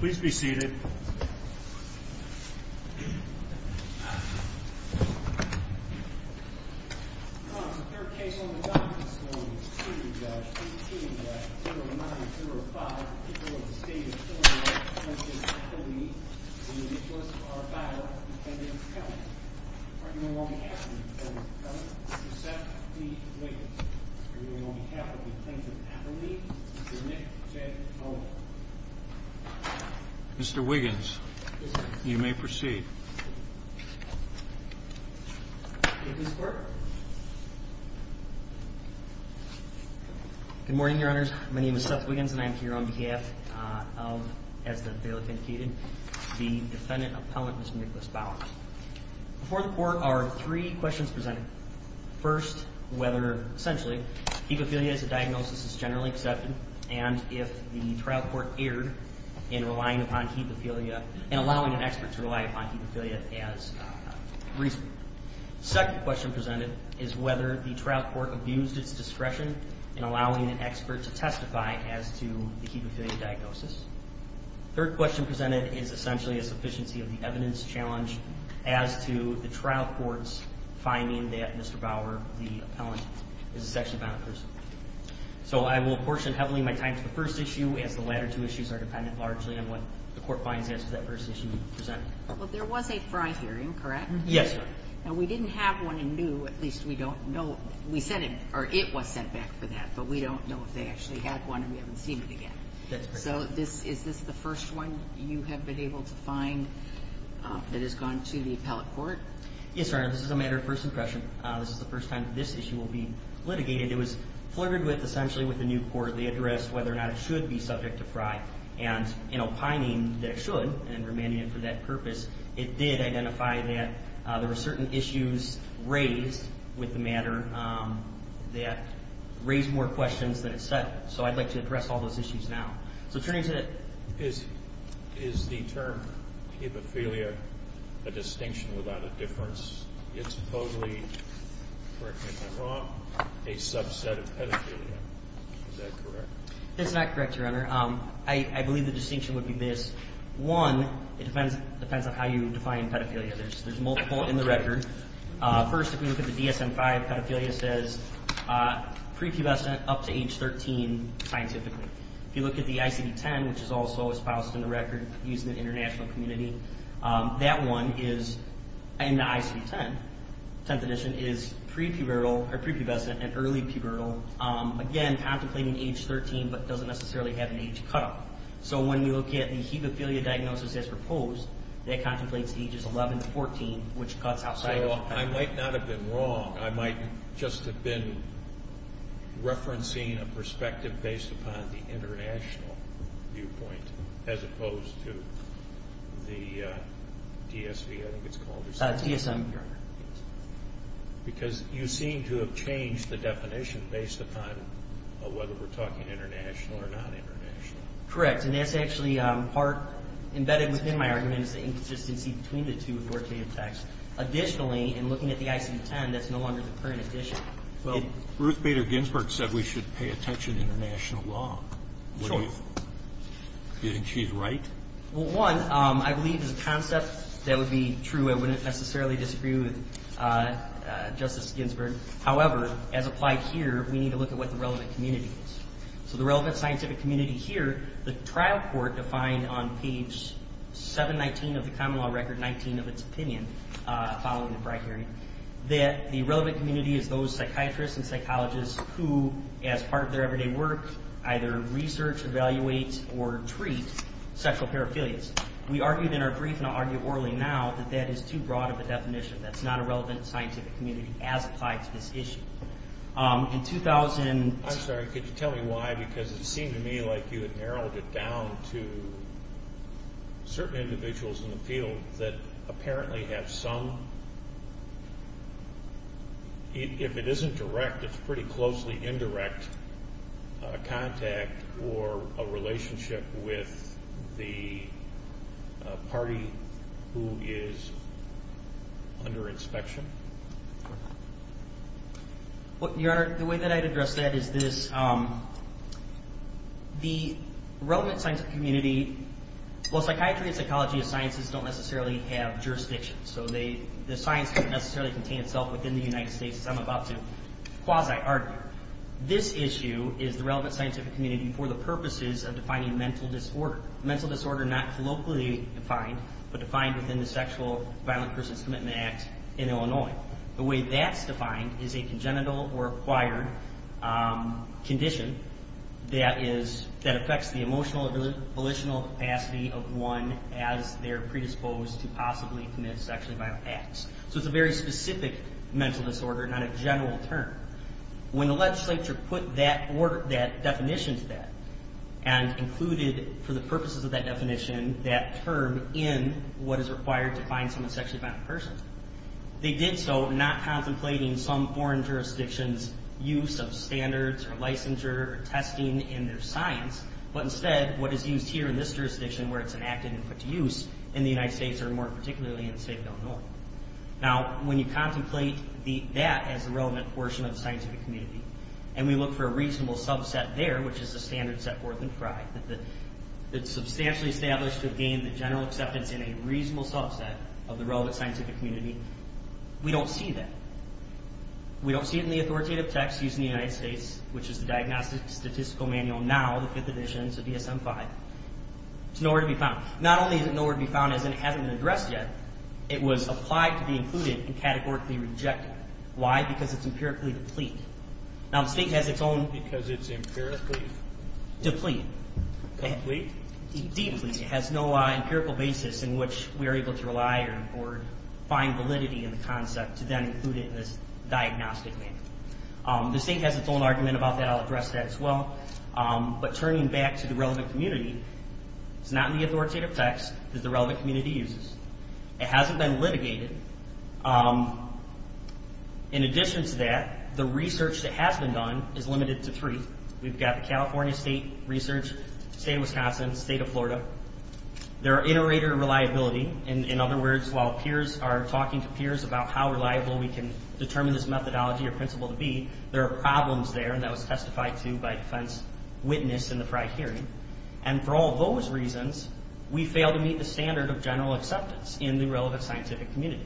Please be seated. Mr. Wiggins, you may proceed. Good morning, your honors. My name is Seth Wiggins and I'm here on behalf of, as the bailiff indicated, the defendant appellant, Mr. Nicholas Bauer. Before the court are three questions presented. First, whether essentially he could feel he has a diagnosis is generally accepted and if the trial court erred in relying upon hemophilia and allowing an expert to rely upon hemophilia as reason. Second question presented is whether the trial court abused its discretion in allowing an expert to testify as to the hemophilia diagnosis. Third question presented is essentially a sufficiency of the evidence challenge as to the trial court's finding that Mr. Bauer, the appellant, is a sexually violent person. So I will portion heavily my time to the first issue as the latter two issues are dependent largely on what the court finds as to that first issue presented. Well, there was a prior hearing, correct? Yes, your honor. Now, we didn't have one in new. At least we don't know. We said it, or it was sent back for that, but we don't know if they actually had one and we haven't seen it again. So this, is this the first one you have been able to find that has gone to the appellate court? Yes, your honor. This is a matter of first impression. This is the first time this issue will be litigated. It was flirted with, essentially, with the new court. They addressed whether or not it should be subject to Frye. And in opining that it should, and remanding it for that purpose, it did identify that there were certain issues raised with the matter that raised more questions than it set. So I'd like to address all those issues now. So turning to the... Is, is the term hemophilia a distinction without a difference? It's totally, correct me if I'm wrong, a subset of pedophilia, is that correct? It's not correct, your honor. I believe the distinction would be this. One, it depends, depends on how you define pedophilia. There's, there's multiple in the record. First, if we look at the DSM-5, pedophilia says, pre-pubescent up to age 13 scientifically. If you look at the ICD-10, which is also espoused in the record using the international community, that one is in the ICD-10. The 10th edition is pre-pubescent and early pubertal, again, contemplating age 13, but doesn't necessarily have an age cutoff. So when you look at the hemophilia diagnosis as proposed, that contemplates ages 11 to 14, which cuts outside of... So I might not have been wrong. I might just have been referencing a perspective based upon the international viewpoint, as opposed to the DSV, I think it's called, or something. DSM, your honor. Because you seem to have changed the definition based upon whether we're talking international or non-international. Correct. And that's actually part, embedded within my argument is the inconsistency between the two with word, shape, and text. Additionally, in looking at the ICD-10, that's no longer the current edition. Well, Ruth Bader Ginsburg said we should pay attention to international law. Do you think she's right? Well, one, I believe there's a concept that would be true. I wouldn't necessarily disagree with Justice Ginsburg. However, as applied here, we need to look at what the relevant community is. So the relevant scientific community here, the trial court defined on page 719 of the common law record, 19 of its opinion, following the bribery, that the relevant community is those psychiatrists and psychologists who, as part of their everyday work, either research, evaluate, or treat sexual paraphilias. We argued in our brief, and I'll argue orally now, that that is too broad of a definition. That's not a relevant scientific community as applied to this issue. In 2000- I'm sorry, could you tell me why? Because it seemed to me like you had narrowed it down to certain individuals in the field that apparently have some, if it isn't direct, it's pretty closely indirect contact or a relationship with the party who is under inspection. Your Honor, the way that I'd address that is this, the relevant scientific community, well, psychiatry and psychology of sciences don't necessarily have jurisdictions. So the science doesn't necessarily contain itself within the United States, as I'm about to quasi-argue. This issue is the relevant scientific community for the purposes of defining mental disorder. Mental disorder not colloquially defined, but defined within the Sexual Violent Persons Commitment Act in Illinois. The way that's defined is a congenital or acquired condition that affects the emotional or volitional capacity of one as they're predisposed to possibly commit sexually violent acts. So it's a very specific mental disorder, not a general term. When the legislature put that definition to that and included, for the purposes of that definition, that term in what is required to find someone sexually violent in person, they did so not contemplating some foreign jurisdiction's use of standards or licensure or testing in their science, but instead what is used here in this jurisdiction where it's enacted and put to use in the United States or more particularly in the state of Illinois. Now, when you contemplate that as a relevant portion of the scientific community and we look for a reasonable subset there, which is the standards set forth in Frye, that it's substantially established to gain the general acceptance in a reasonable subset of the relevant scientific community, we don't see that. We don't see it in the authoritative text used in the United States, which is the Diagnostic Statistical Manual now, the fifth edition, so DSM-5. It's nowhere to be found. Not only is it nowhere to be found as in it hasn't been addressed yet, it was applied to be included and categorically rejected. Why? Because it's empirically deplete. Now, the state has its own. Because it's empirically. Deplete. Deplete? Deplete. It has no empirical basis in which we are able to rely or find validity in the concept to then include it in this diagnostic manual. The state has its own argument about that. I'll address that as well, but turning back to the relevant community, it's not in the authoritative text that the relevant community uses. It hasn't been litigated. In addition to that, the research that has been done is limited to three. We've got the California state research, state of Wisconsin, state of Florida. There are iterator reliability. In other words, while peers are talking to peers about how reliable we can determine this methodology or principle to be, there are problems there. And that was testified to by defense witness in the prior hearing. And for all those reasons, we fail to meet the standard of general acceptance in the relevant scientific community.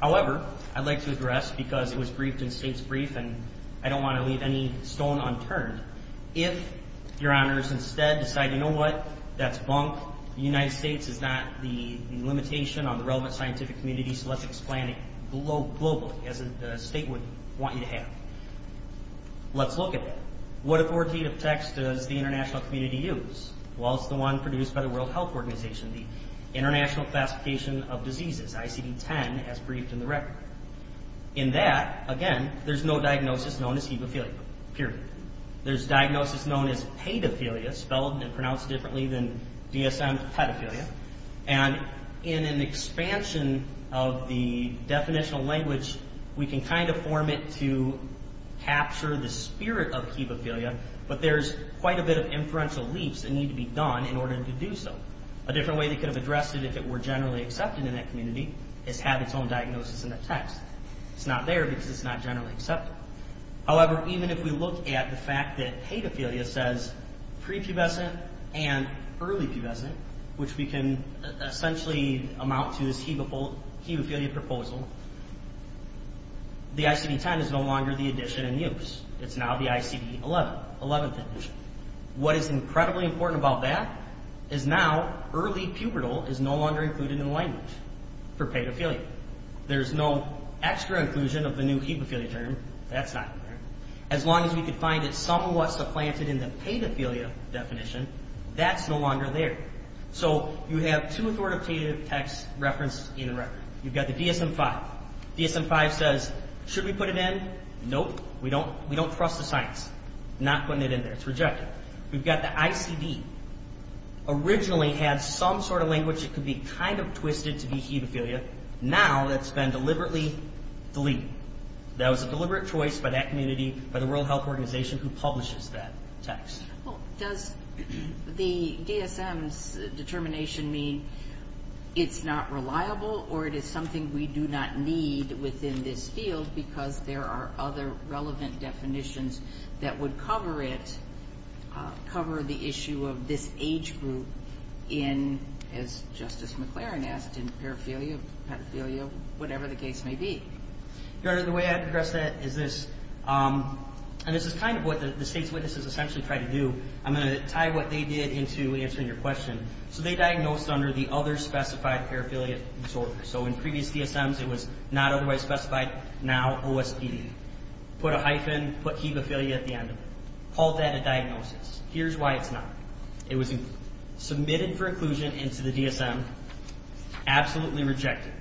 However, I'd like to address, because it was briefed in state's brief, and I don't want to leave any stone unturned. If your honors instead decide, you know what, that's bunk, the United States is not the limitation on the relevant scientific community, so let's explain it globally, as the state would want you to have. Let's look at that. What authoritative text does the international community use? Well, it's the one produced by the World Health Organization. The International Classification of Diseases, ICD-10, as briefed in the record. In that, again, there's no diagnosis known as hemophilia, period. There's diagnosis known as pedophilia, spelled and pronounced differently than DSM pedophilia. And in an expansion of the definitional language, we can kind of form it to capture the spirit of hemophilia, but there's quite a bit of inferential leaps that need to be done in order to do so. A different way they could have addressed it, if it were generally accepted in that community, is have its own diagnosis in the text. It's not there because it's not generally accepted. However, even if we look at the fact that pedophilia says prepubescent and early pubescent, which we can essentially amount to as hemophilia proposal, the ICD-10 is no longer the edition in use. It's now the ICD-11, 11th edition. What is incredibly important about that is now early pubertal is no longer included in the language for pedophilia. There's no extra inclusion of the new hemophilia term. That's not there. As long as we could find it somewhat supplanted in the pedophilia definition, that's no longer there. So you have two authoritative texts referenced in the record. You've got the DSM-5. DSM-5 says, should we put it in? Nope. We don't trust the science. Not putting it in there. It's rejected. We've got the ICD. Originally had some sort of language that could be kind of twisted to be hemophilia. Now that's been deliberately deleted. That was a deliberate choice by that community, by the World Health Organization, who publishes that text. Well, does the DSM's determination mean it's not reliable or it is something we do not need within this field because there are other relevant definitions that would cover it, cover the issue of this age group in, as Justice McLaren asked, in paraphilia, pedophilia, whatever the case may be? Your Honor, the way I'd address that is this, and this is kind of what the state's witnesses essentially tried to do. I'm going to tie what they did into answering your question. So they diagnosed under the other specified paraphilia disorder. So in previous DSMs, it was not otherwise specified, now OSPD. Put a hyphen, put hemophilia at the end, called that a diagnosis. Here's why it's not. It was submitted for inclusion into the DSM, absolutely rejected.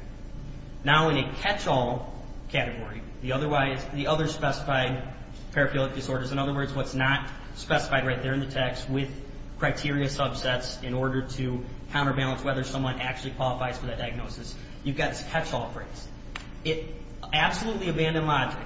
Now in a catch-all category, the other specified paraphilia disorders, in other words, what's not specified right there in the text with criteria subsets in order to counterbalance whether someone actually qualifies for that diagnosis. You've got this catch-all phrase. It absolutely abandoned logic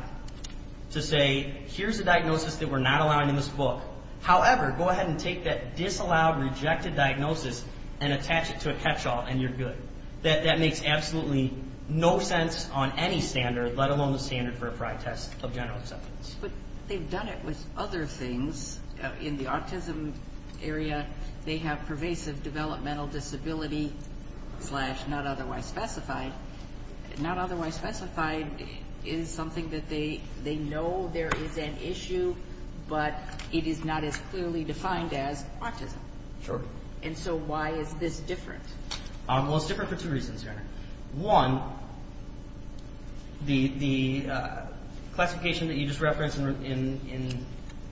to say, here's a diagnosis that we're not allowing in this book. However, go ahead and take that disallowed, rejected diagnosis and attach it to a catch-all, and you're good. That makes absolutely no sense on any standard, let alone the standard for a prior test of general acceptance. But they've done it with other things. In the autism area, they have pervasive developmental disability, slash not otherwise specified. Not otherwise specified is something that they know there is an issue, but it is not as clearly defined as autism. And so why is this different? Well, it's different for two reasons here. One, the classification that you just referenced in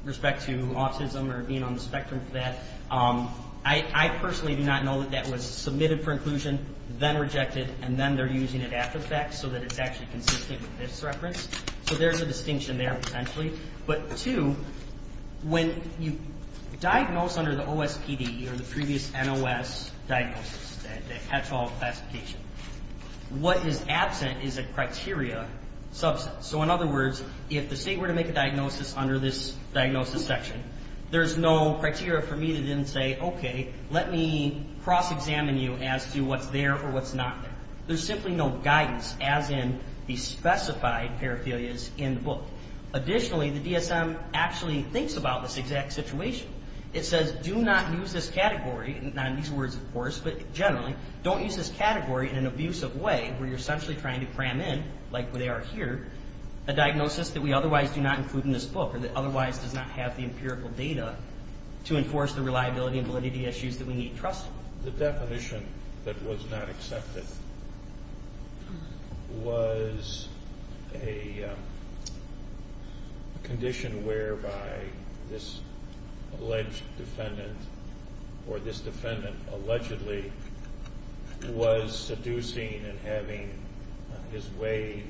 respect to autism or being on the spectrum for that, I personally do not know that that was submitted for inclusion, then rejected, and then they're using it after the fact so that it's actually consistent with this reference. So there's a distinction there potentially. But two, when you diagnose under the OSPD or the previous NOS diagnosis, the catch-all classification, what is absent is a criteria subset. So in other words, if the state were to make a diagnosis under this diagnosis section, there's no criteria for me to then say, OK, let me cross-examine you as to what's there or what's not there. There's simply no guidance, as in the specified paraphilias in the book. Additionally, the DSM actually thinks about this exact situation. It says, do not use this category, not in these words, of course, but generally, don't use this category in an abusive way where you're essentially trying to cram in, like they are here, a diagnosis that we otherwise do not include in this book or that otherwise does not have the empirical data to enforce the reliability and validity issues that we need trust in. The definition that was not accepted was a condition whereby this alleged defendant or this defendant allegedly was seducing and having his way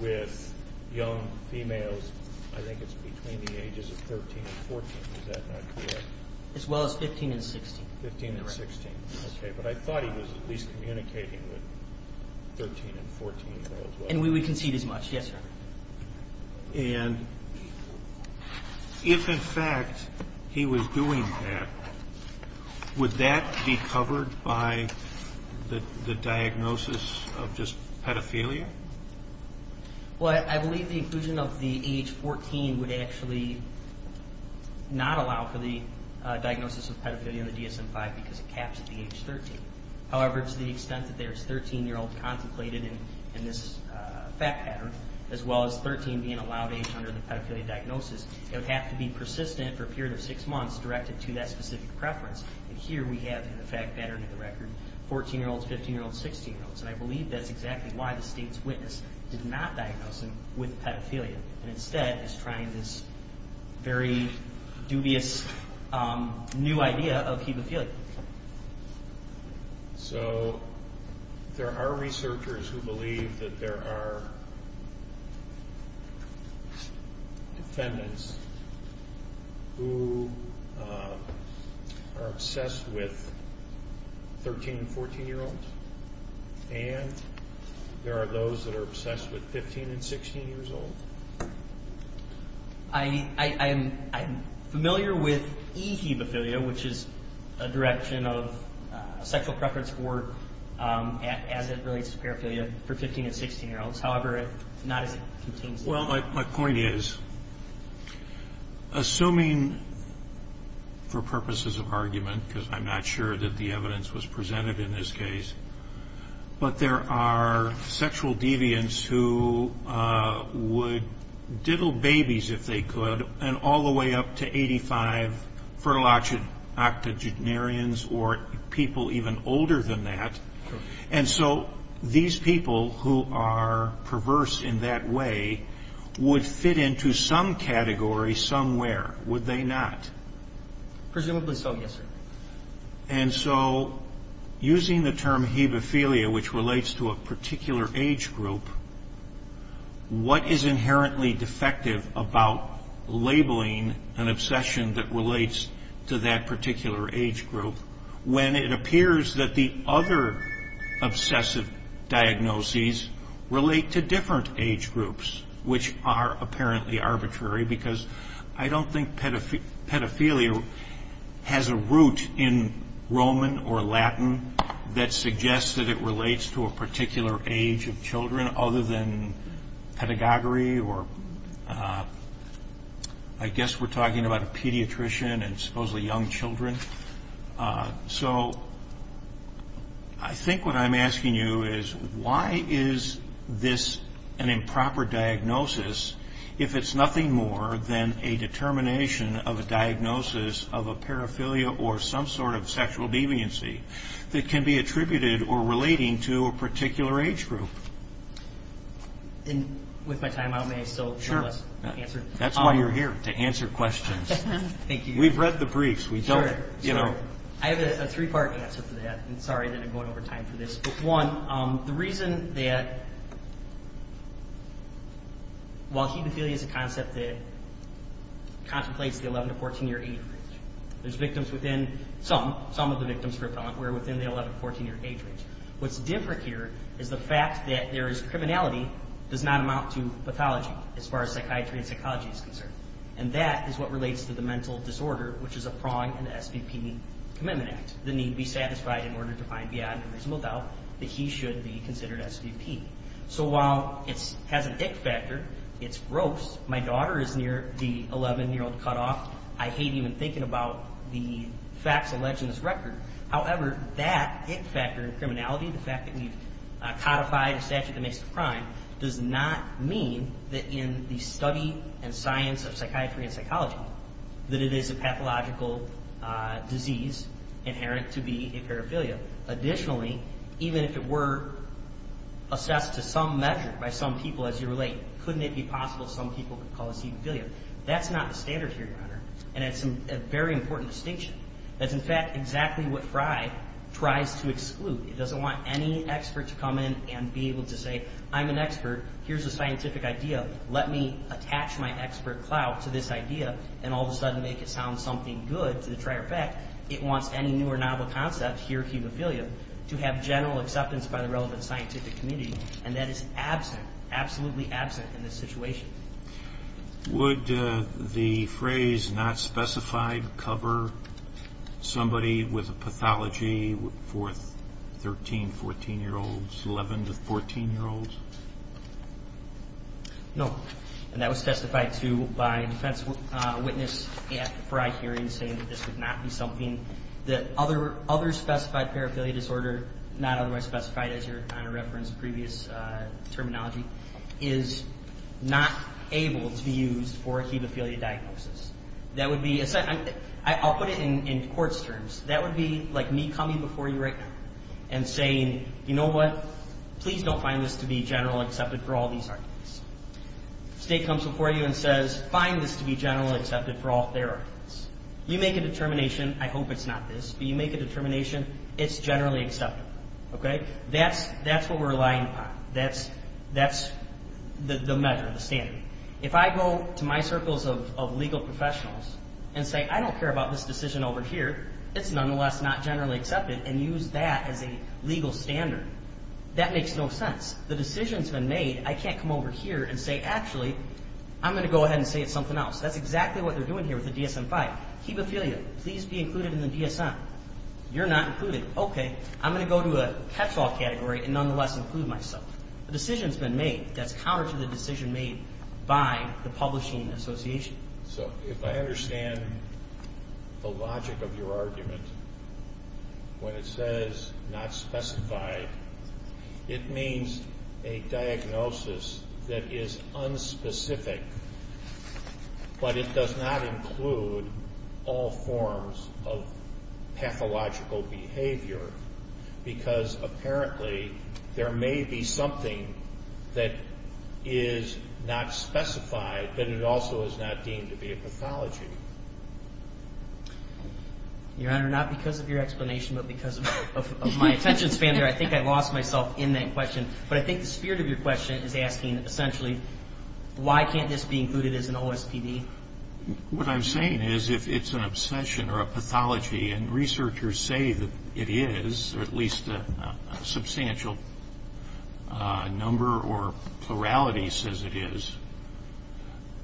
with young females. I think it's between the ages of 13 and 14, is that not correct? As well as 15 and 16. 15 and 16, OK, but I thought he was at least communicating with 13 and 14 as well. And we would concede as much, yes, sir. And if, in fact, he was doing that, would that be covered by the diagnosis of just pedophilia? Well, I believe the inclusion of the age 14 would actually not allow for the diagnosis of pedophilia in the DSM-5 because it caps at the age 13. However, to the extent that there's 13-year-old contemplated in this fact pattern, as well as 13 being allowed age under the pedophilia diagnosis, it would have to be persistent for a period of six months directed to that specific preference. And here we have in the fact pattern of the record 14-year-olds, 15-year-olds, 16-year-olds. And I believe that's exactly why the state's witness did not diagnose him with pedophilia, and instead is trying this very dubious new idea of hemophilia. So there are researchers who believe that there are defendants who are obsessed with 13- and 14-year-olds, and there are those that are obsessed with 15- and 16-year-olds? I'm familiar with e-hemophilia, which is a direction of sexual preference for, as it relates to paraphilia, for 15- and 16-year-olds. However, it's not as it contains it. Well, my point is, assuming for purposes of argument, because I'm not sure that the evidence was presented in this case, but there are sexual deviants who would diddle babies, if they could, and all the way up to 85, fertile octogenarians or people even older than that. And so these people who are perverse in that way would fit into some category somewhere, would they not? Presumably so, yes, sir. And so using the term hemophilia, which relates to a particular age group, what is inherently defective about labeling an obsession that relates to that particular age group when it appears that the other obsessive diagnoses relate to different age groups, which are apparently arbitrary, because I don't think pedophilia has a root in Roman or Latin that suggests that it relates to a particular age of children other than pedagogy, or I guess we're talking about a pediatrician and supposedly young children. So I think what I'm asking you is, why is this an improper diagnosis if it's nothing more than a determination of a diagnosis of a paraphilia or some sort of sexual deviancy that can be attributed or relating to a particular age group? And with my time out, may I still answer? Sure, that's why you're here, to answer questions. Thank you. We've read the briefs. Sure. You know. I have a three-part answer to that, and sorry that I'm going over time for this. One, the reason that while hemophilia is a concept that contemplates the 11- to 14-year age range, there's victims within some, some of the victims were within the 11- to 14-year age range. What's different here is the fact that there is criminality does not amount to pathology as far as psychiatry and psychology is concerned. And that is what relates to the mental disorder, which is a prong in the SBP Commitment Act. The need be satisfied in order to find beyond a reasonable doubt that he should be considered SBP. So while it has a dick factor, it's gross. My daughter is near the 11-year-old cutoff. I hate even thinking about the facts alleged in this record. However, that dick factor in criminality, the fact that we've codified a statute that makes it a crime, does not mean that in the study and science of psychiatry and psychology that it is a pathological disease inherent to be a paraphilia. Additionally, even if it were assessed to some measure by some people as you relate, couldn't it be possible some people could call this hemophilia? That's not the standard here, Your Honor, and it's a very important distinction. That's, in fact, exactly what Frye tries to exclude. It doesn't want any expert to come in and be able to say, I'm an expert, here's a scientific idea, let me attach my expert clout to this idea, and all of a sudden make it sound something good to the trier effect. It wants any new or novel concept here, hemophilia, to have general acceptance by the relevant scientific community, and that is absent, absolutely absent in this situation. Would the phrase not specified cover somebody with a pathology for 13, 14-year-olds, 11 to 14-year-olds? No, and that was testified to by a defense witness at the Frye hearing saying that this would not be something that other specified paraphilia disorder, not otherwise specified as Your Honor referenced previous terminology, is not able to be used for a hemophilia diagnosis. That would be, I'll put it in court's terms, that would be like me coming before you right now and saying, you know what, please don't find this to be generally accepted for all these arguments. State comes before you and says, find this to be generally accepted for all therapies. You make a determination, I hope it's not this, but you make a determination, it's generally acceptable, okay? That's what we're relying upon. That's the measure, the standard. If I go to my circles of legal professionals and say, I don't care about this decision over here, it's nonetheless not generally accepted, and use that as a legal standard, that makes no sense. The decision's been made. I can't come over here and say, actually, I'm going to go ahead and say it's something else. That's exactly what they're doing here with the DSM-5. Hemophilia, please be included in the DSM. You're not included. Okay, I'm going to go to a catch-all category and nonetheless include myself. The decision's been made. That's counter to the decision made by the publishing association. So if I understand the logic of your argument, when it says not specified, it means a diagnosis that is unspecific, but it does not include all forms of pathological behavior because apparently there may be something that is not specified that it also is not deemed to be a pathology. Your Honor, not because of your explanation, but because of my attention span here, I think I lost myself in that question, but I think the spirit of your question is asking, essentially, why can't this be included as an OSPD? What I'm saying is if it's an obsession or a pathology, and researchers say that it is, or at least a substantial number or plurality says it is,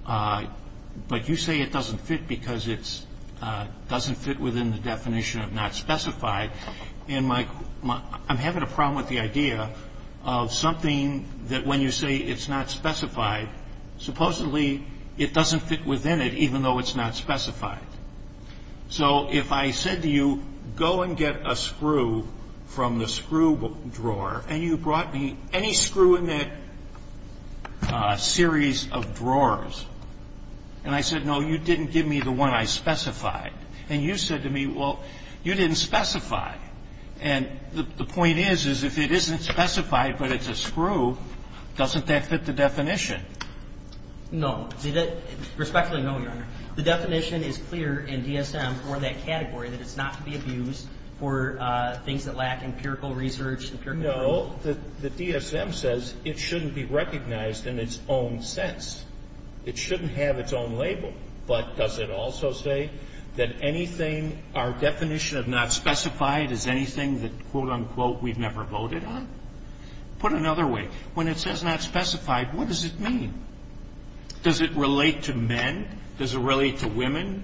but you say it doesn't fit because it doesn't fit within the definition of not specified. I'm having a problem with the idea of something that when you say it's not specified, supposedly it doesn't fit within it even though it's not specified. So if I said to you, go and get a screw from the screw drawer, and you brought me any screw in that series of drawers, and I said, no, you didn't give me the one I specified, and you said to me, well, you didn't specify. And the point is, is if it isn't specified, but it's a screw, doesn't that fit the definition? No. Respectfully, no, Your Honor. The definition is clear in DSM for that category, that it's not to be abused for things that lack empirical research. No. The DSM says it shouldn't be recognized in its own sense. It shouldn't have its own label. But does it also say that anything our definition of not specified is anything that, quote, unquote, we've never voted on? Put another way, when it says not specified, what does it mean? Does it relate to men? Does it relate to women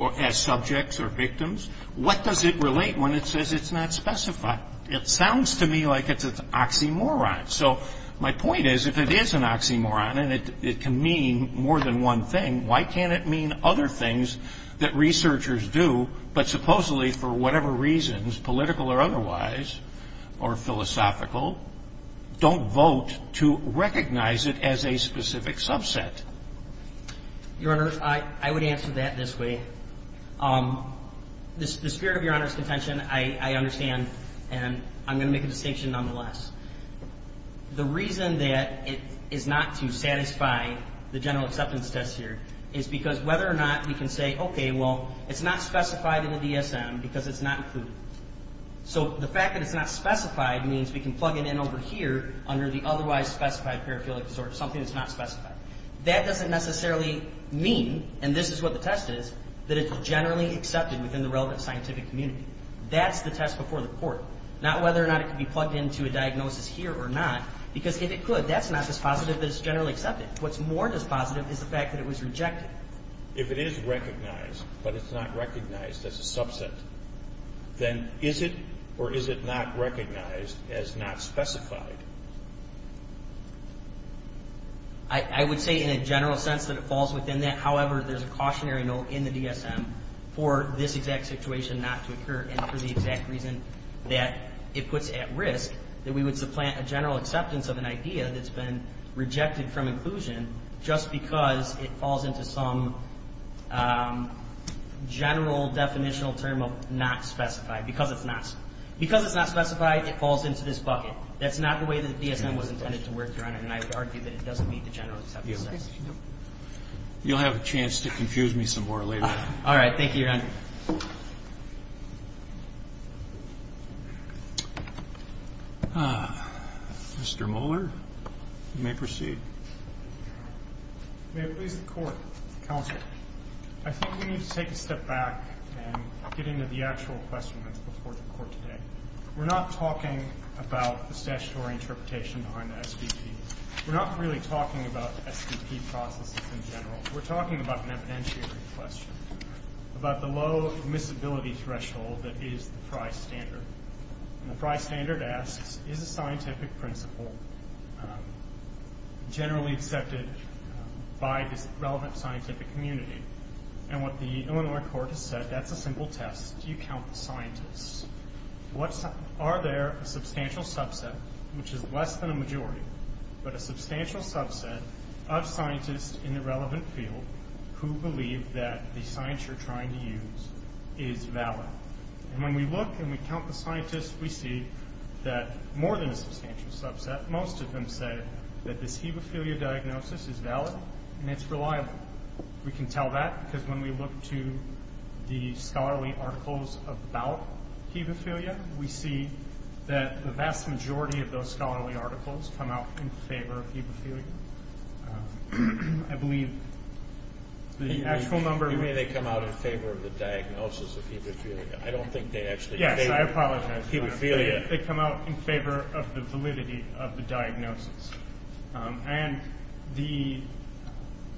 as subjects or victims? What does it relate when it says it's not specified? It sounds to me like it's an oxymoron. So my point is, if it is an oxymoron, and it can mean more than one thing, why can't it mean other things that researchers do, but supposedly, for whatever reasons, political or otherwise, or philosophical, don't vote to recognize it as a specific subset? Your Honor, I would answer that this way. The spirit of Your Honor's contention I understand, and I'm going to make a distinction nonetheless. The reason that it is not to satisfy the general acceptance test here is because whether or not we can say, okay, well, it's not specified in the DSM because it's not included. So the fact that it's not specified means we can plug it in over here under the otherwise specified paraphilic disorder, something that's not specified. That doesn't necessarily mean, and this is what the test is, that it's generally accepted within the relevant scientific community. That's the test before the court. Not whether or not it can be plugged into a diagnosis here or not, because if it could, that's not dispositive, but it's generally accepted. What's more dispositive is the fact that it was rejected. If it is recognized, but it's not recognized as a subset, then is it or is it not recognized as not specified? I would say in a general sense that it falls within that. However, there's a cautionary note in the DSM for this exact situation not to occur and for the exact reason that it puts it at risk, that we would supplant a general acceptance of an idea that's been rejected from inclusion just because it falls into some general definitional term of not specified, because it's not. Because it's not specified, it falls into this bucket. That's not the way the DSM was intended to work, Your Honor, and I would argue that it doesn't meet the general acceptance. You'll have a chance to confuse me some more later. All right. Thank you, Your Honor. Thank you. Mr. Mohler, you may proceed. May it please the Court. Counsel, I think we need to take a step back and get into the actual question that's before the Court today. We're not talking about the statutory interpretation on the SVP. We're not really talking about SVP processes in general. We're talking about an evidentiary question, about the low admissibility threshold that is the Frye standard. And the Frye standard asks, is a scientific principle generally accepted by this relevant scientific community? And what the Illinois court has said, that's a simple test. Do you count the scientists? Are there a substantial subset, which is less than a majority, but a substantial subset of scientists in the relevant field who believe that the science you're trying to use is valid? And when we look and we count the scientists, we see that more than a substantial subset, most of them say that this hemophilia diagnosis is valid and it's reliable. We can tell that because when we look to the scholarly articles about hemophilia, we see that the vast majority of those scholarly articles come out in favor of hemophilia. I believe the actual number... You mean they come out in favor of the diagnosis of hemophilia. I don't think they actually... Yes, I apologize. They come out in favor of the validity of the diagnosis. And the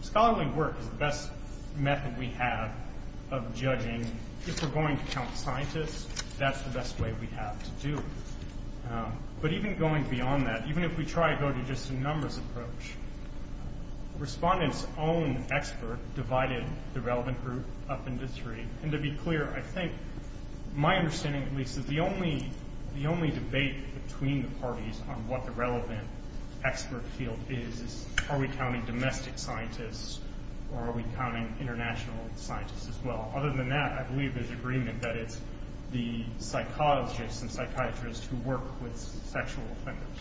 scholarly work is the best method we have of judging. If we're going to count scientists, that's the best way we have to do it. But even going beyond that, even if we try to go to just a numbers approach, respondents' own expert divided the relevant group up into three. And to be clear, I think my understanding, at least, is the only debate between the parties on what the relevant expert field is is are we counting domestic scientists or are we counting international scientists as well. Other than that, I believe there's agreement that it's the psychologists and psychiatrists who work with sexual offenders.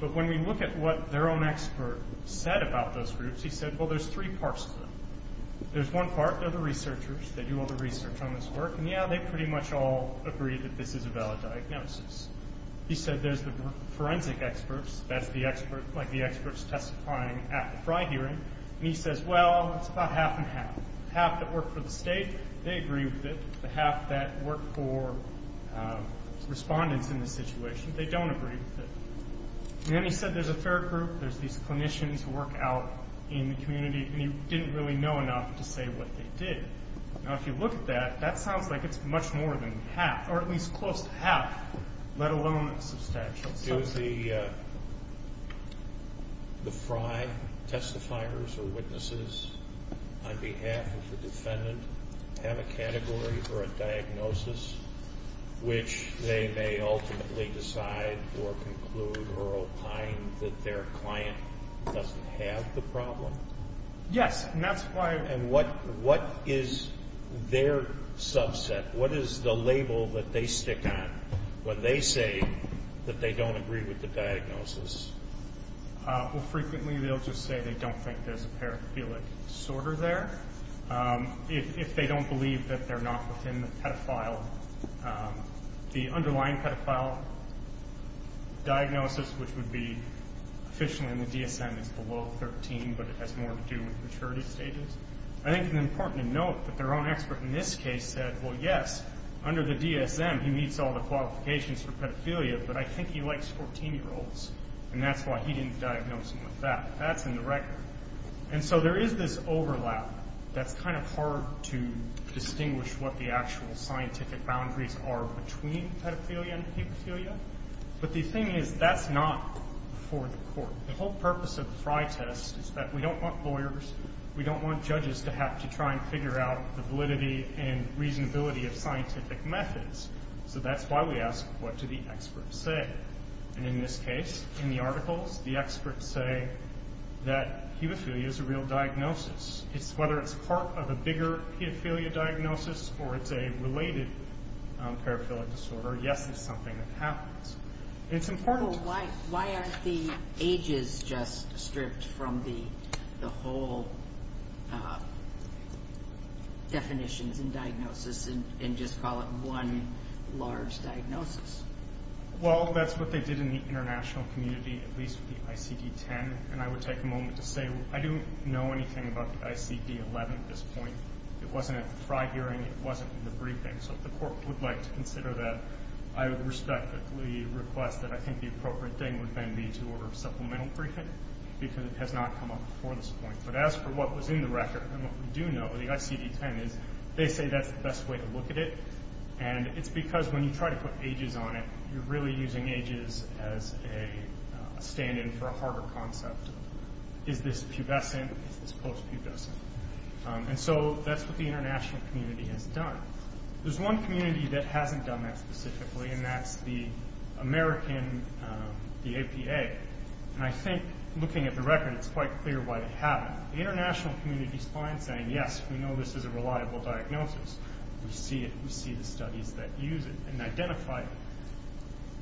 But when we look at what their own expert said about those groups, he said, well, there's three parts to them. There's one part. They're the researchers. They do all the research on this work. And, yeah, they pretty much all agree that this is a valid diagnosis. He said there's the forensic experts. That's the expert, like the experts testifying at the Fry hearing. And he says, well, it's about half and half. The half that work for the state, they agree with it. The half that work for respondents in this situation, they don't agree with it. And then he said there's a fair group. There's these clinicians who work out in the community, and he didn't really know enough to say what they did. Now, if you look at that, that sounds like it's much more than half, or at least close to half, let alone substantial. Do the Fry testifiers or witnesses, on behalf of the defendant, have a category for a diagnosis which they may ultimately decide or conclude or opine that their client doesn't have the problem? Yes. And that's why I'm – And what is their subset? What is the label that they stick on when they say that they don't agree with the diagnosis? Well, frequently they'll just say they don't think there's a paraphilic disorder there if they don't believe that they're not within the pedophile. The underlying pedophile diagnosis, which would be, officially in the DSM, is below 13, but it has more to do with maturity stages. I think it's important to note that their own expert in this case said, well, yes, under the DSM he meets all the qualifications for pedophilia, but I think he likes 14-year-olds, and that's why he didn't diagnose him with that. That's in the record. And so there is this overlap that's kind of hard to distinguish what the actual scientific boundaries are between pedophilia and hemophilia. But the thing is, that's not for the court. The whole purpose of the Fry test is that we don't want lawyers, we don't want judges to have to try and figure out the validity and reasonability of scientific methods. So that's why we ask, what do the experts say? And in this case, in the articles, the experts say that hemophilia is a real diagnosis. Whether it's part of a bigger pedophilia diagnosis or it's a related paraphilic disorder, yes, it's something that happens. It's important. Why aren't the ages just stripped from the whole definitions and diagnosis and just call it one large diagnosis? Well, that's what they did in the international community, at least with the ICD-10. And I would take a moment to say I don't know anything about the ICD-11 at this point. It wasn't at the Fry hearing, it wasn't in the briefing. So if the court would like to consider that, I would respectfully request that I think the appropriate thing would then be to order a supplemental briefing because it has not come up before this point. But as for what was in the record and what we do know, the ICD-10, they say that's the best way to look at it. And it's because when you try to put ages on it, you're really using ages as a stand-in for a harder concept. Is this pubescent? Is this post-pubescent? And so that's what the international community has done. There's one community that hasn't done that specifically, and that's the American, the APA. And I think looking at the record, it's quite clear why they haven't. The international community is fine saying, yes, we know this is a reliable diagnosis. We see it, we see the studies that use it and identify it.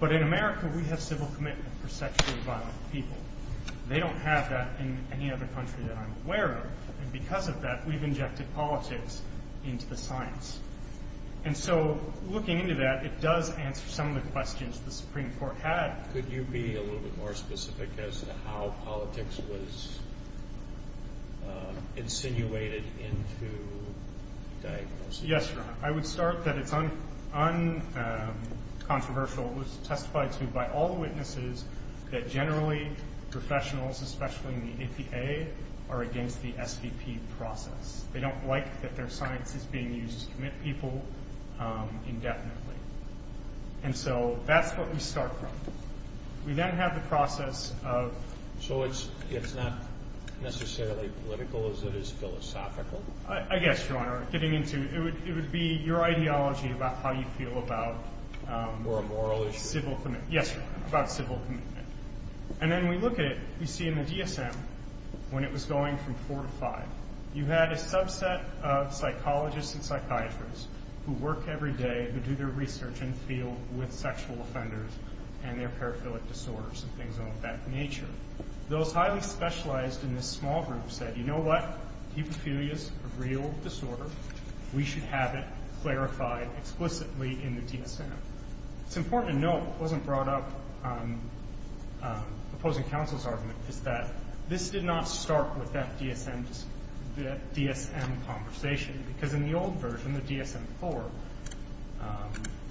But in America, we have civil commitment for sexually violent people. They don't have that in any other country that I'm aware of. And because of that, we've injected politics into the science. And so looking into that, it does answer some of the questions the Supreme Court had. Could you be a little bit more specific as to how politics was insinuated into diagnosis? Yes, Your Honor. I would start that it's uncontroversial. It was testified to by all the witnesses that generally professionals, especially in the APA, are against the SVP process. They don't like that their science is being used to commit people indefinitely. And so that's what we start from. We then have the process of— So it's not necessarily political as it is philosophical? I guess, Your Honor. Getting into it, it would be your ideology about how you feel about— More moral issues? Yes, Your Honor, about civil commitment. And then we look at it. We see in the DSM, when it was going from four to five, you had a subset of psychologists and psychiatrists who work every day, who do their research in the field with sexual offenders and their paraphilic disorders and things of that nature. Those highly specialized in this small group said, You know what? Hepatitis is a real disorder. We should have it clarified explicitly in the DSM. It's important to note—it wasn't brought up in the opposing counsel's argument— is that this did not start with that DSM conversation, because in the old version, the DSM-IV,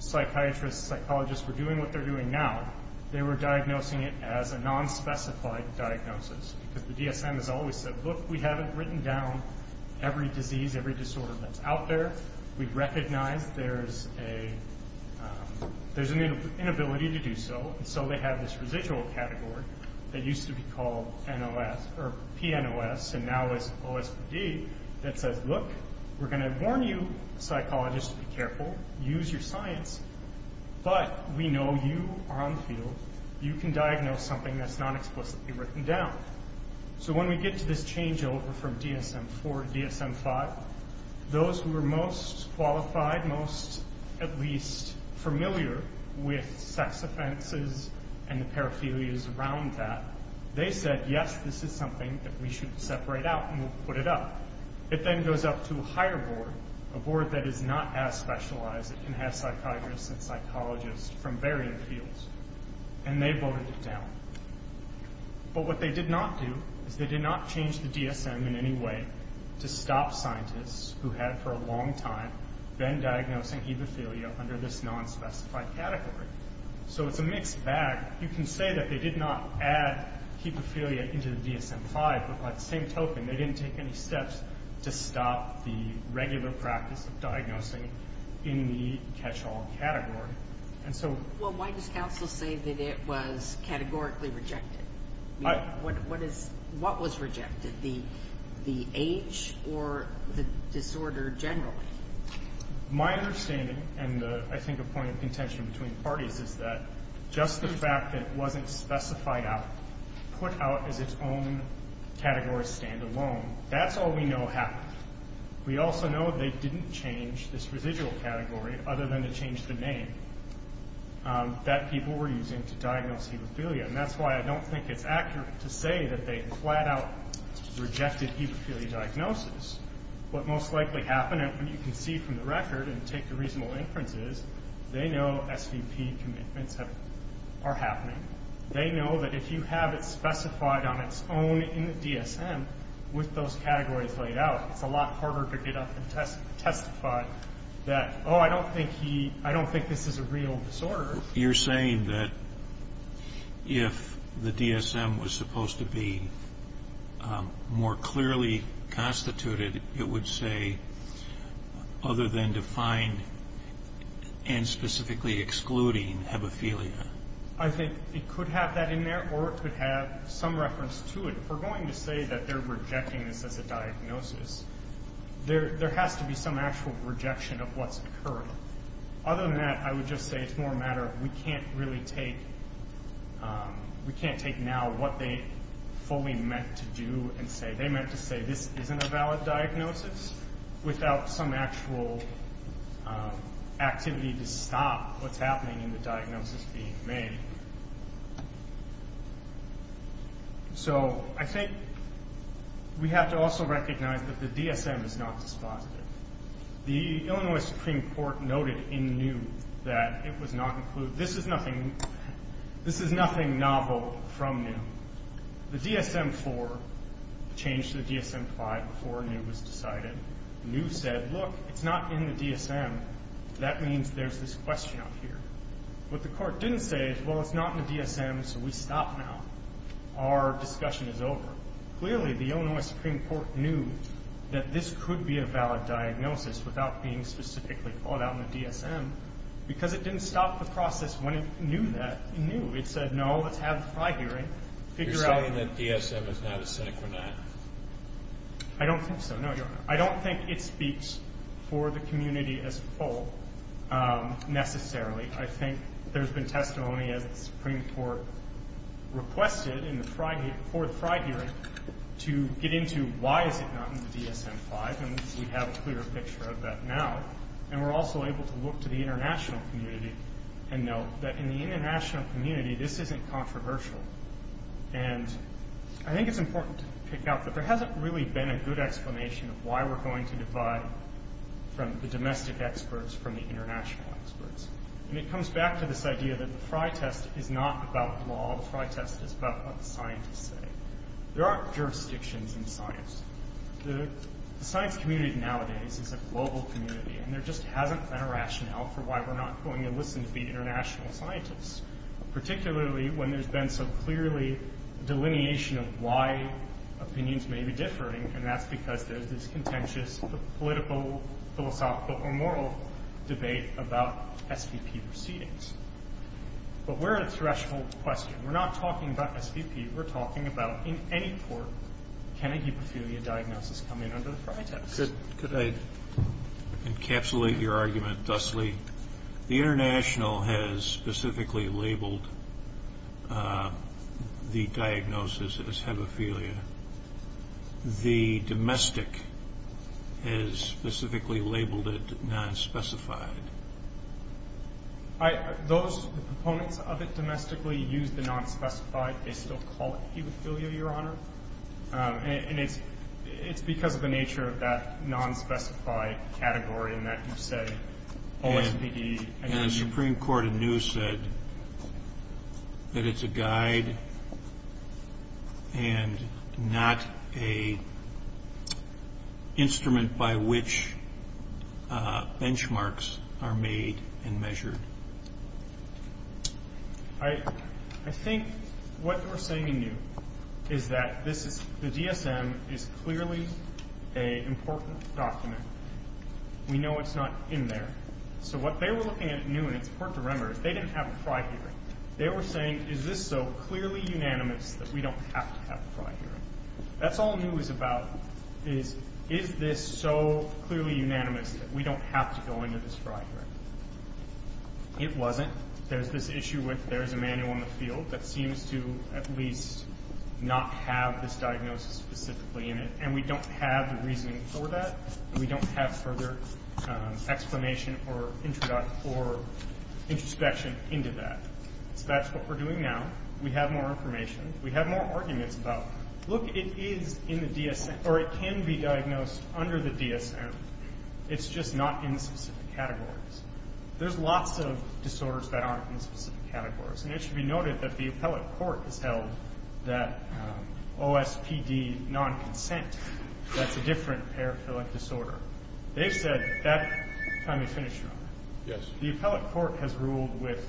psychiatrists and psychologists were doing what they're doing now. They were diagnosing it as a nonspecified diagnosis, because the DSM has always said, Look, we haven't written down every disease, every disorder that's out there. We recognize there's an inability to do so, and so they have this residual category that used to be called PNOS, and now is OSPD, that says, Look, we're going to warn you psychologists to be careful. Use your science. But we know you are on the field. You can diagnose something that's not explicitly written down. So when we get to this changeover from DSM-IV to DSM-V, those who were most qualified, most at least familiar with sex offenses and the paraphilias around that, they said, Yes, this is something that we should separate out, and we'll put it up. It then goes up to a higher board, a board that is not as specialized. It can have psychiatrists and psychologists from varying fields, and they voted it down. But what they did not do is they did not change the DSM in any way to stop scientists who had for a long time been diagnosing hemophilia under this nonspecified category. So it's a mixed bag. You can say that they did not add hemophilia into the DSM-V, but by the same token, they didn't take any steps to stop the regular practice of diagnosing in the catch-all category. Well, why does counsel say that it was categorically rejected? What was rejected? Was it the age or the disorder generally? My understanding, and I think a point of contention between parties, is that just the fact that it wasn't specified out, put out as its own category stand-alone, that's all we know happened. We also know they didn't change this residual category other than to change the name that people were using to diagnose hemophilia, and that's why I don't think it's accurate to say that they flat-out rejected hemophilia diagnosis. What most likely happened, and you can see from the record and take the reasonable inference, is they know SVP commitments are happening. They know that if you have it specified on its own in the DSM with those categories laid out, it's a lot harder to get up and testify that, oh, I don't think this is a real disorder. You're saying that if the DSM was supposed to be more clearly constituted, it would say other than defined and specifically excluding hemophilia. I think it could have that in there, or it could have some reference to it. If we're going to say that they're rejecting this as a diagnosis, there has to be some actual rejection of what's occurring. Other than that, I would just say it's more a matter of we can't really take now what they fully meant to do and say. They meant to say this isn't a valid diagnosis without some actual activity to stop what's happening in the diagnosis being made. So I think we have to also recognize that the DSM is not dispositive. The Illinois Supreme Court noted in New that it was not included. This is nothing novel from New. The DSM-IV changed to the DSM-CLI before New was decided. New said, look, it's not in the DSM. That means there's this question up here. What the Court didn't say is, well, it's not in the DSM, so we stop now. Our discussion is over. Clearly, the Illinois Supreme Court knew that this could be a valid diagnosis without being specifically called out in the DSM because it didn't stop the process when it knew that. It said, no, let's have the Friday hearing, figure out. You're saying that DSM is not a synchronized? I don't think so, no, Your Honor. I don't think it speaks for the community as a whole necessarily. I think there's been testimony as the Supreme Court requested for the Friday hearing to get into why is it not in the DSM-V, and we have a clearer picture of that now. And we're also able to look to the international community and note that in the international community, this isn't controversial. And I think it's important to pick out that there hasn't really been a good explanation of why we're going to divide from the domestic experts from the international experts. And it comes back to this idea that the Frye test is not about law. The Frye test is about what the scientists say. There aren't jurisdictions in science. The science community nowadays is a global community, and there just hasn't been a rationale for why we're not going to listen to the international scientists, particularly when there's been so clearly a delineation of why opinions may be differing, and that's because there's this contentious political, philosophical, or moral debate about SVP proceedings. But we're at a threshold question. We're not talking about SVP. We're talking about in any court can a hemophilia diagnosis come in under the Frye test. Could I encapsulate your argument thusly? The international has specifically labeled the diagnosis as hemophilia. The domestic has specifically labeled it nonspecified. Those proponents of it domestically use the nonspecified. They still call it hemophilia, Your Honor. And it's because of the nature of that nonspecified category in that you say OSPD. And the Supreme Court in New said that it's a guide and not an instrument by which benchmarks are made and measured. I think what they were saying in New is that the DSM is clearly an important document. We know it's not in there. So what they were looking at in New, and it's important to remember, is they didn't have a Frye hearing. They were saying is this so clearly unanimous that we don't have to have a Frye hearing. That's all New is about is is this so clearly unanimous that we don't have to go into this Frye hearing. It wasn't. There's this issue with there's a manual in the field that seems to at least not have this diagnosis specifically in it. And we don't have the reasoning for that. We don't have further explanation or introspection into that. So that's what we're doing now. We have more information. We have more arguments about, look, it is in the DSM, or it can be diagnosed under the DSM. It's just not in specific categories. There's lots of disorders that aren't in specific categories. And it should be noted that the appellate court has held that OSPD non-consent, that's a different paraphilic disorder. They've said that the appellate court has ruled with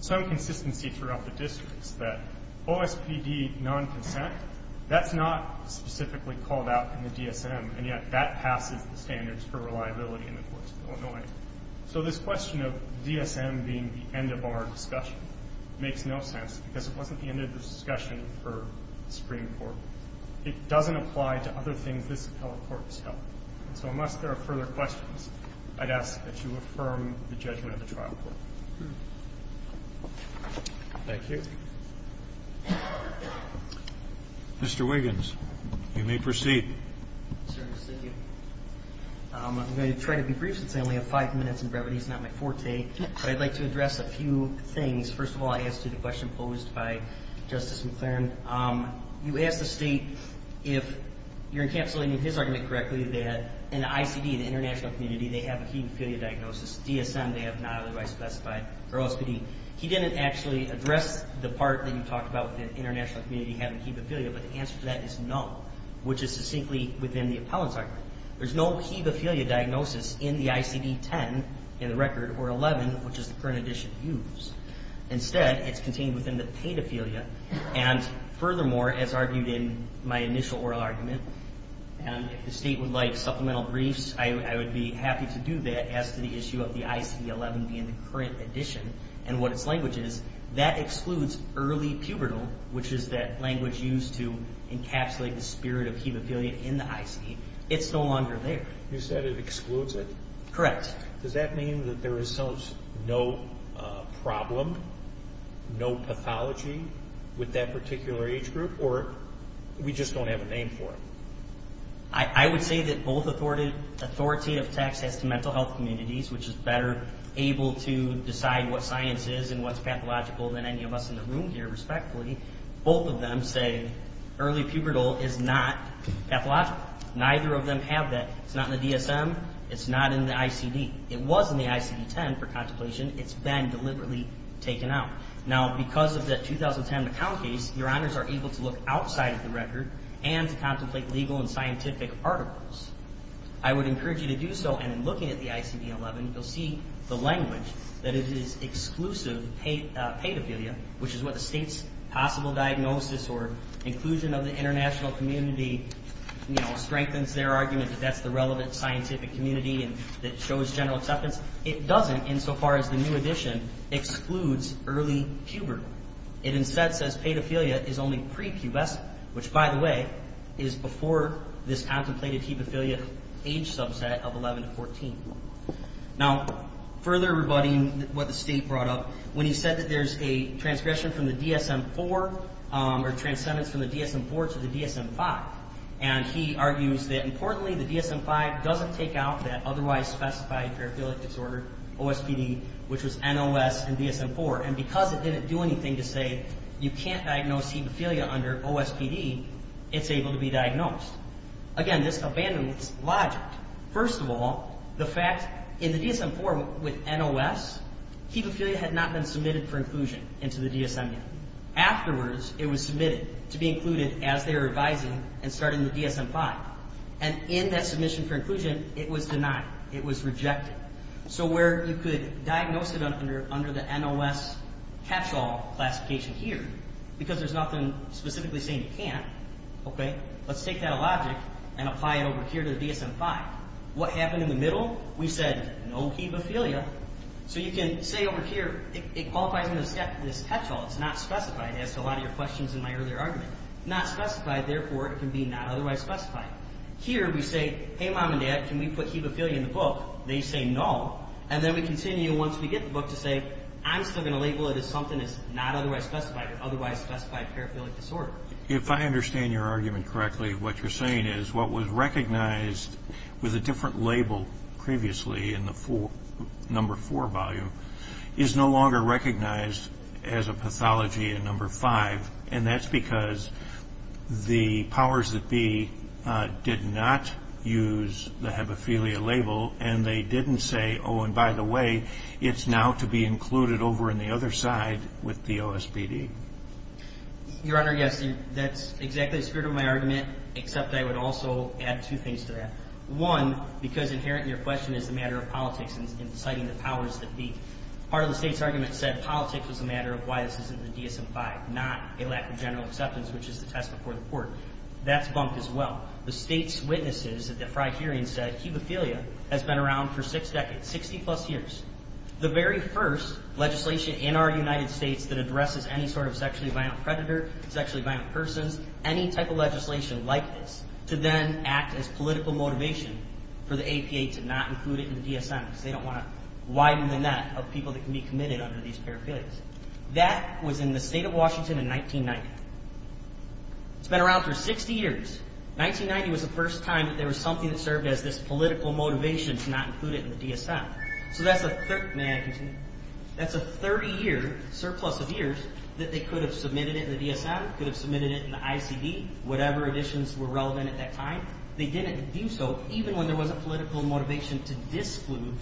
some consistency throughout the districts, that OSPD non-consent, that's not specifically called out in the DSM, and yet that passes the standards for reliability in the courts of Illinois. So this question of DSM being the end of our discussion makes no sense, because it wasn't the end of the discussion for the Supreme Court. It doesn't apply to other things this appellate court has held. So unless there are further questions, I'd ask that you affirm the judgment of the trial court. Thank you. Mr. Wiggins, you may proceed. Yes, sir. Thank you. I'm going to try to be brief, since I only have five minutes in brevity. It's not my forte. But I'd like to address a few things. First of all, I asked you the question posed by Justice McClaren. You asked the State, if you're encapsulating his argument correctly, that in the ICD, the international community, they have a hemophilia diagnosis. DSM, they have not otherwise specified, or OSPD. He didn't actually address the part that you talked about, the international community having hemophilia. But the answer to that is no, which is succinctly within the appellant's argument. There's no hemophilia diagnosis in the ICD-10 in the record, or 11, which is the current edition used. Instead, it's contained within the pedophilia. And furthermore, as argued in my initial oral argument, and if the State would like supplemental briefs, I would be happy to do that as to the issue of the ICD-11 being the current edition and what its language is, that excludes early pubertal, which is that language used to encapsulate the spirit of hemophilia in the ICD. It's no longer there. You said it excludes it? Correct. Does that mean that there is no problem, no pathology with that particular age group, or we just don't have a name for it? I would say that both authoritative texts as to mental health communities, which is better able to decide what science is and what's pathological than any of us in the room here, respectfully, both of them say early pubertal is not pathological. Neither of them have that. It's not in the DSM. It's not in the ICD. It was in the ICD-10 for contemplation. It's been deliberately taken out. Now, because of the 2010 McCown case, Your Honors are able to look outside of the record and to contemplate legal and scientific articles. I would encourage you to do so, and in looking at the ICD-11, you'll see the language, that it is exclusive pedophilia, which is what the State's possible diagnosis or inclusion of the international community strengthens their argument that that's the relevant scientific community that shows general acceptance. It doesn't, insofar as the new edition excludes early pubertal. It instead says pedophilia is only prepubescent, which, by the way, is before this contemplated hepaphilia age subset of 11 to 14. Now, further rebutting what the State brought up, when he said that there's a transgression from the DSM-4 or transcendence from the DSM-4 to the DSM-5, and he argues that, importantly, the DSM-5 doesn't take out that otherwise specified paraphilic disorder, OSPD, which was NOS in DSM-4, and because it didn't do anything to say you can't diagnose hepaphilia under OSPD, it's able to be diagnosed. Again, this abandons logic. First of all, the fact in the DSM-4 with NOS, hepaphilia had not been submitted for inclusion into the DSM yet. Afterwards, it was submitted to be included as they were revising and starting the DSM-5, and in that submission for inclusion, it was denied. It was rejected. So where you could diagnose it under the NOS catch-all classification here, because there's nothing specifically saying you can't, okay? Let's take that logic and apply it over here to the DSM-5. What happened in the middle? We said no hepaphilia. So you can say over here it qualifies under this catch-all. It's not specified, as to a lot of your questions in my earlier argument. Not specified, therefore, it can be not otherwise specified. Here we say, hey, Mom and Dad, can we put hepaphilia in the book? They say no, and then we continue once we get the book to say, I'm still going to label it as something that's not otherwise specified, otherwise specified paraphilic disorder. If I understand your argument correctly, what you're saying is what was recognized with a different label previously in the number four volume is no longer recognized as a pathology in number five, and that's because the powers that be did not use the hepaphilia label, and they didn't say, oh, and by the way, it's now to be included over in the other side with the OSPD. Your Honor, yes, that's exactly the spirit of my argument, except I would also add two things to that. One, because inherent in your question is the matter of politics and citing the powers that be. Part of the state's argument said politics was a matter of why this is in the DSM-5, not a lack of general acceptance, which is the test before the court. That's bumped as well. The state's witnesses at the Frey hearing said hepaphilia has been around for six decades, 60-plus years. The very first legislation in our United States that addresses any sort of sexually violent predator, sexually violent persons, any type of legislation like this to then act as political motivation for the APA to not include it in the DSM because they don't want to widen the net of people that can be committed under these paraphernalias. That was in the state of Washington in 1990. It's been around for 60 years. 1990 was the first time that there was something that served as this political motivation to not include it in the DSM. So that's a 30-year surplus of years that they could have submitted it in the DSM, could have submitted it in the ICD, whatever editions were relevant at that time. They didn't do so even when there was a political motivation to disinclude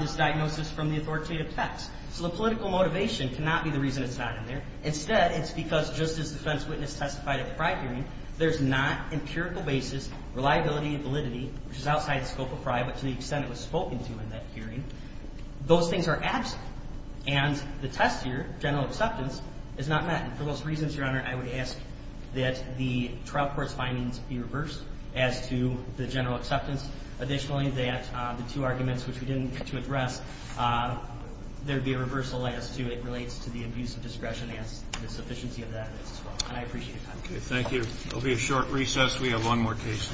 this diagnosis from the authoritative text. So the political motivation cannot be the reason it's not in there. Instead, it's because just as the defense witness testified at the Frey hearing, there's not empirical basis, reliability, validity, which is outside the scope of Frey, but to the extent it was spoken to in that hearing, those things are absent. And the test here, general acceptance, is not met. And for those reasons, Your Honor, I would ask that the trial court's findings be reversed as to the general acceptance. Additionally, that the two arguments which we didn't get to address, there would be a reversal as to it relates to the abuse of discretion and the sufficiency of the evidence as well. And I appreciate that. Thank you. There will be a short recess. We have one more case.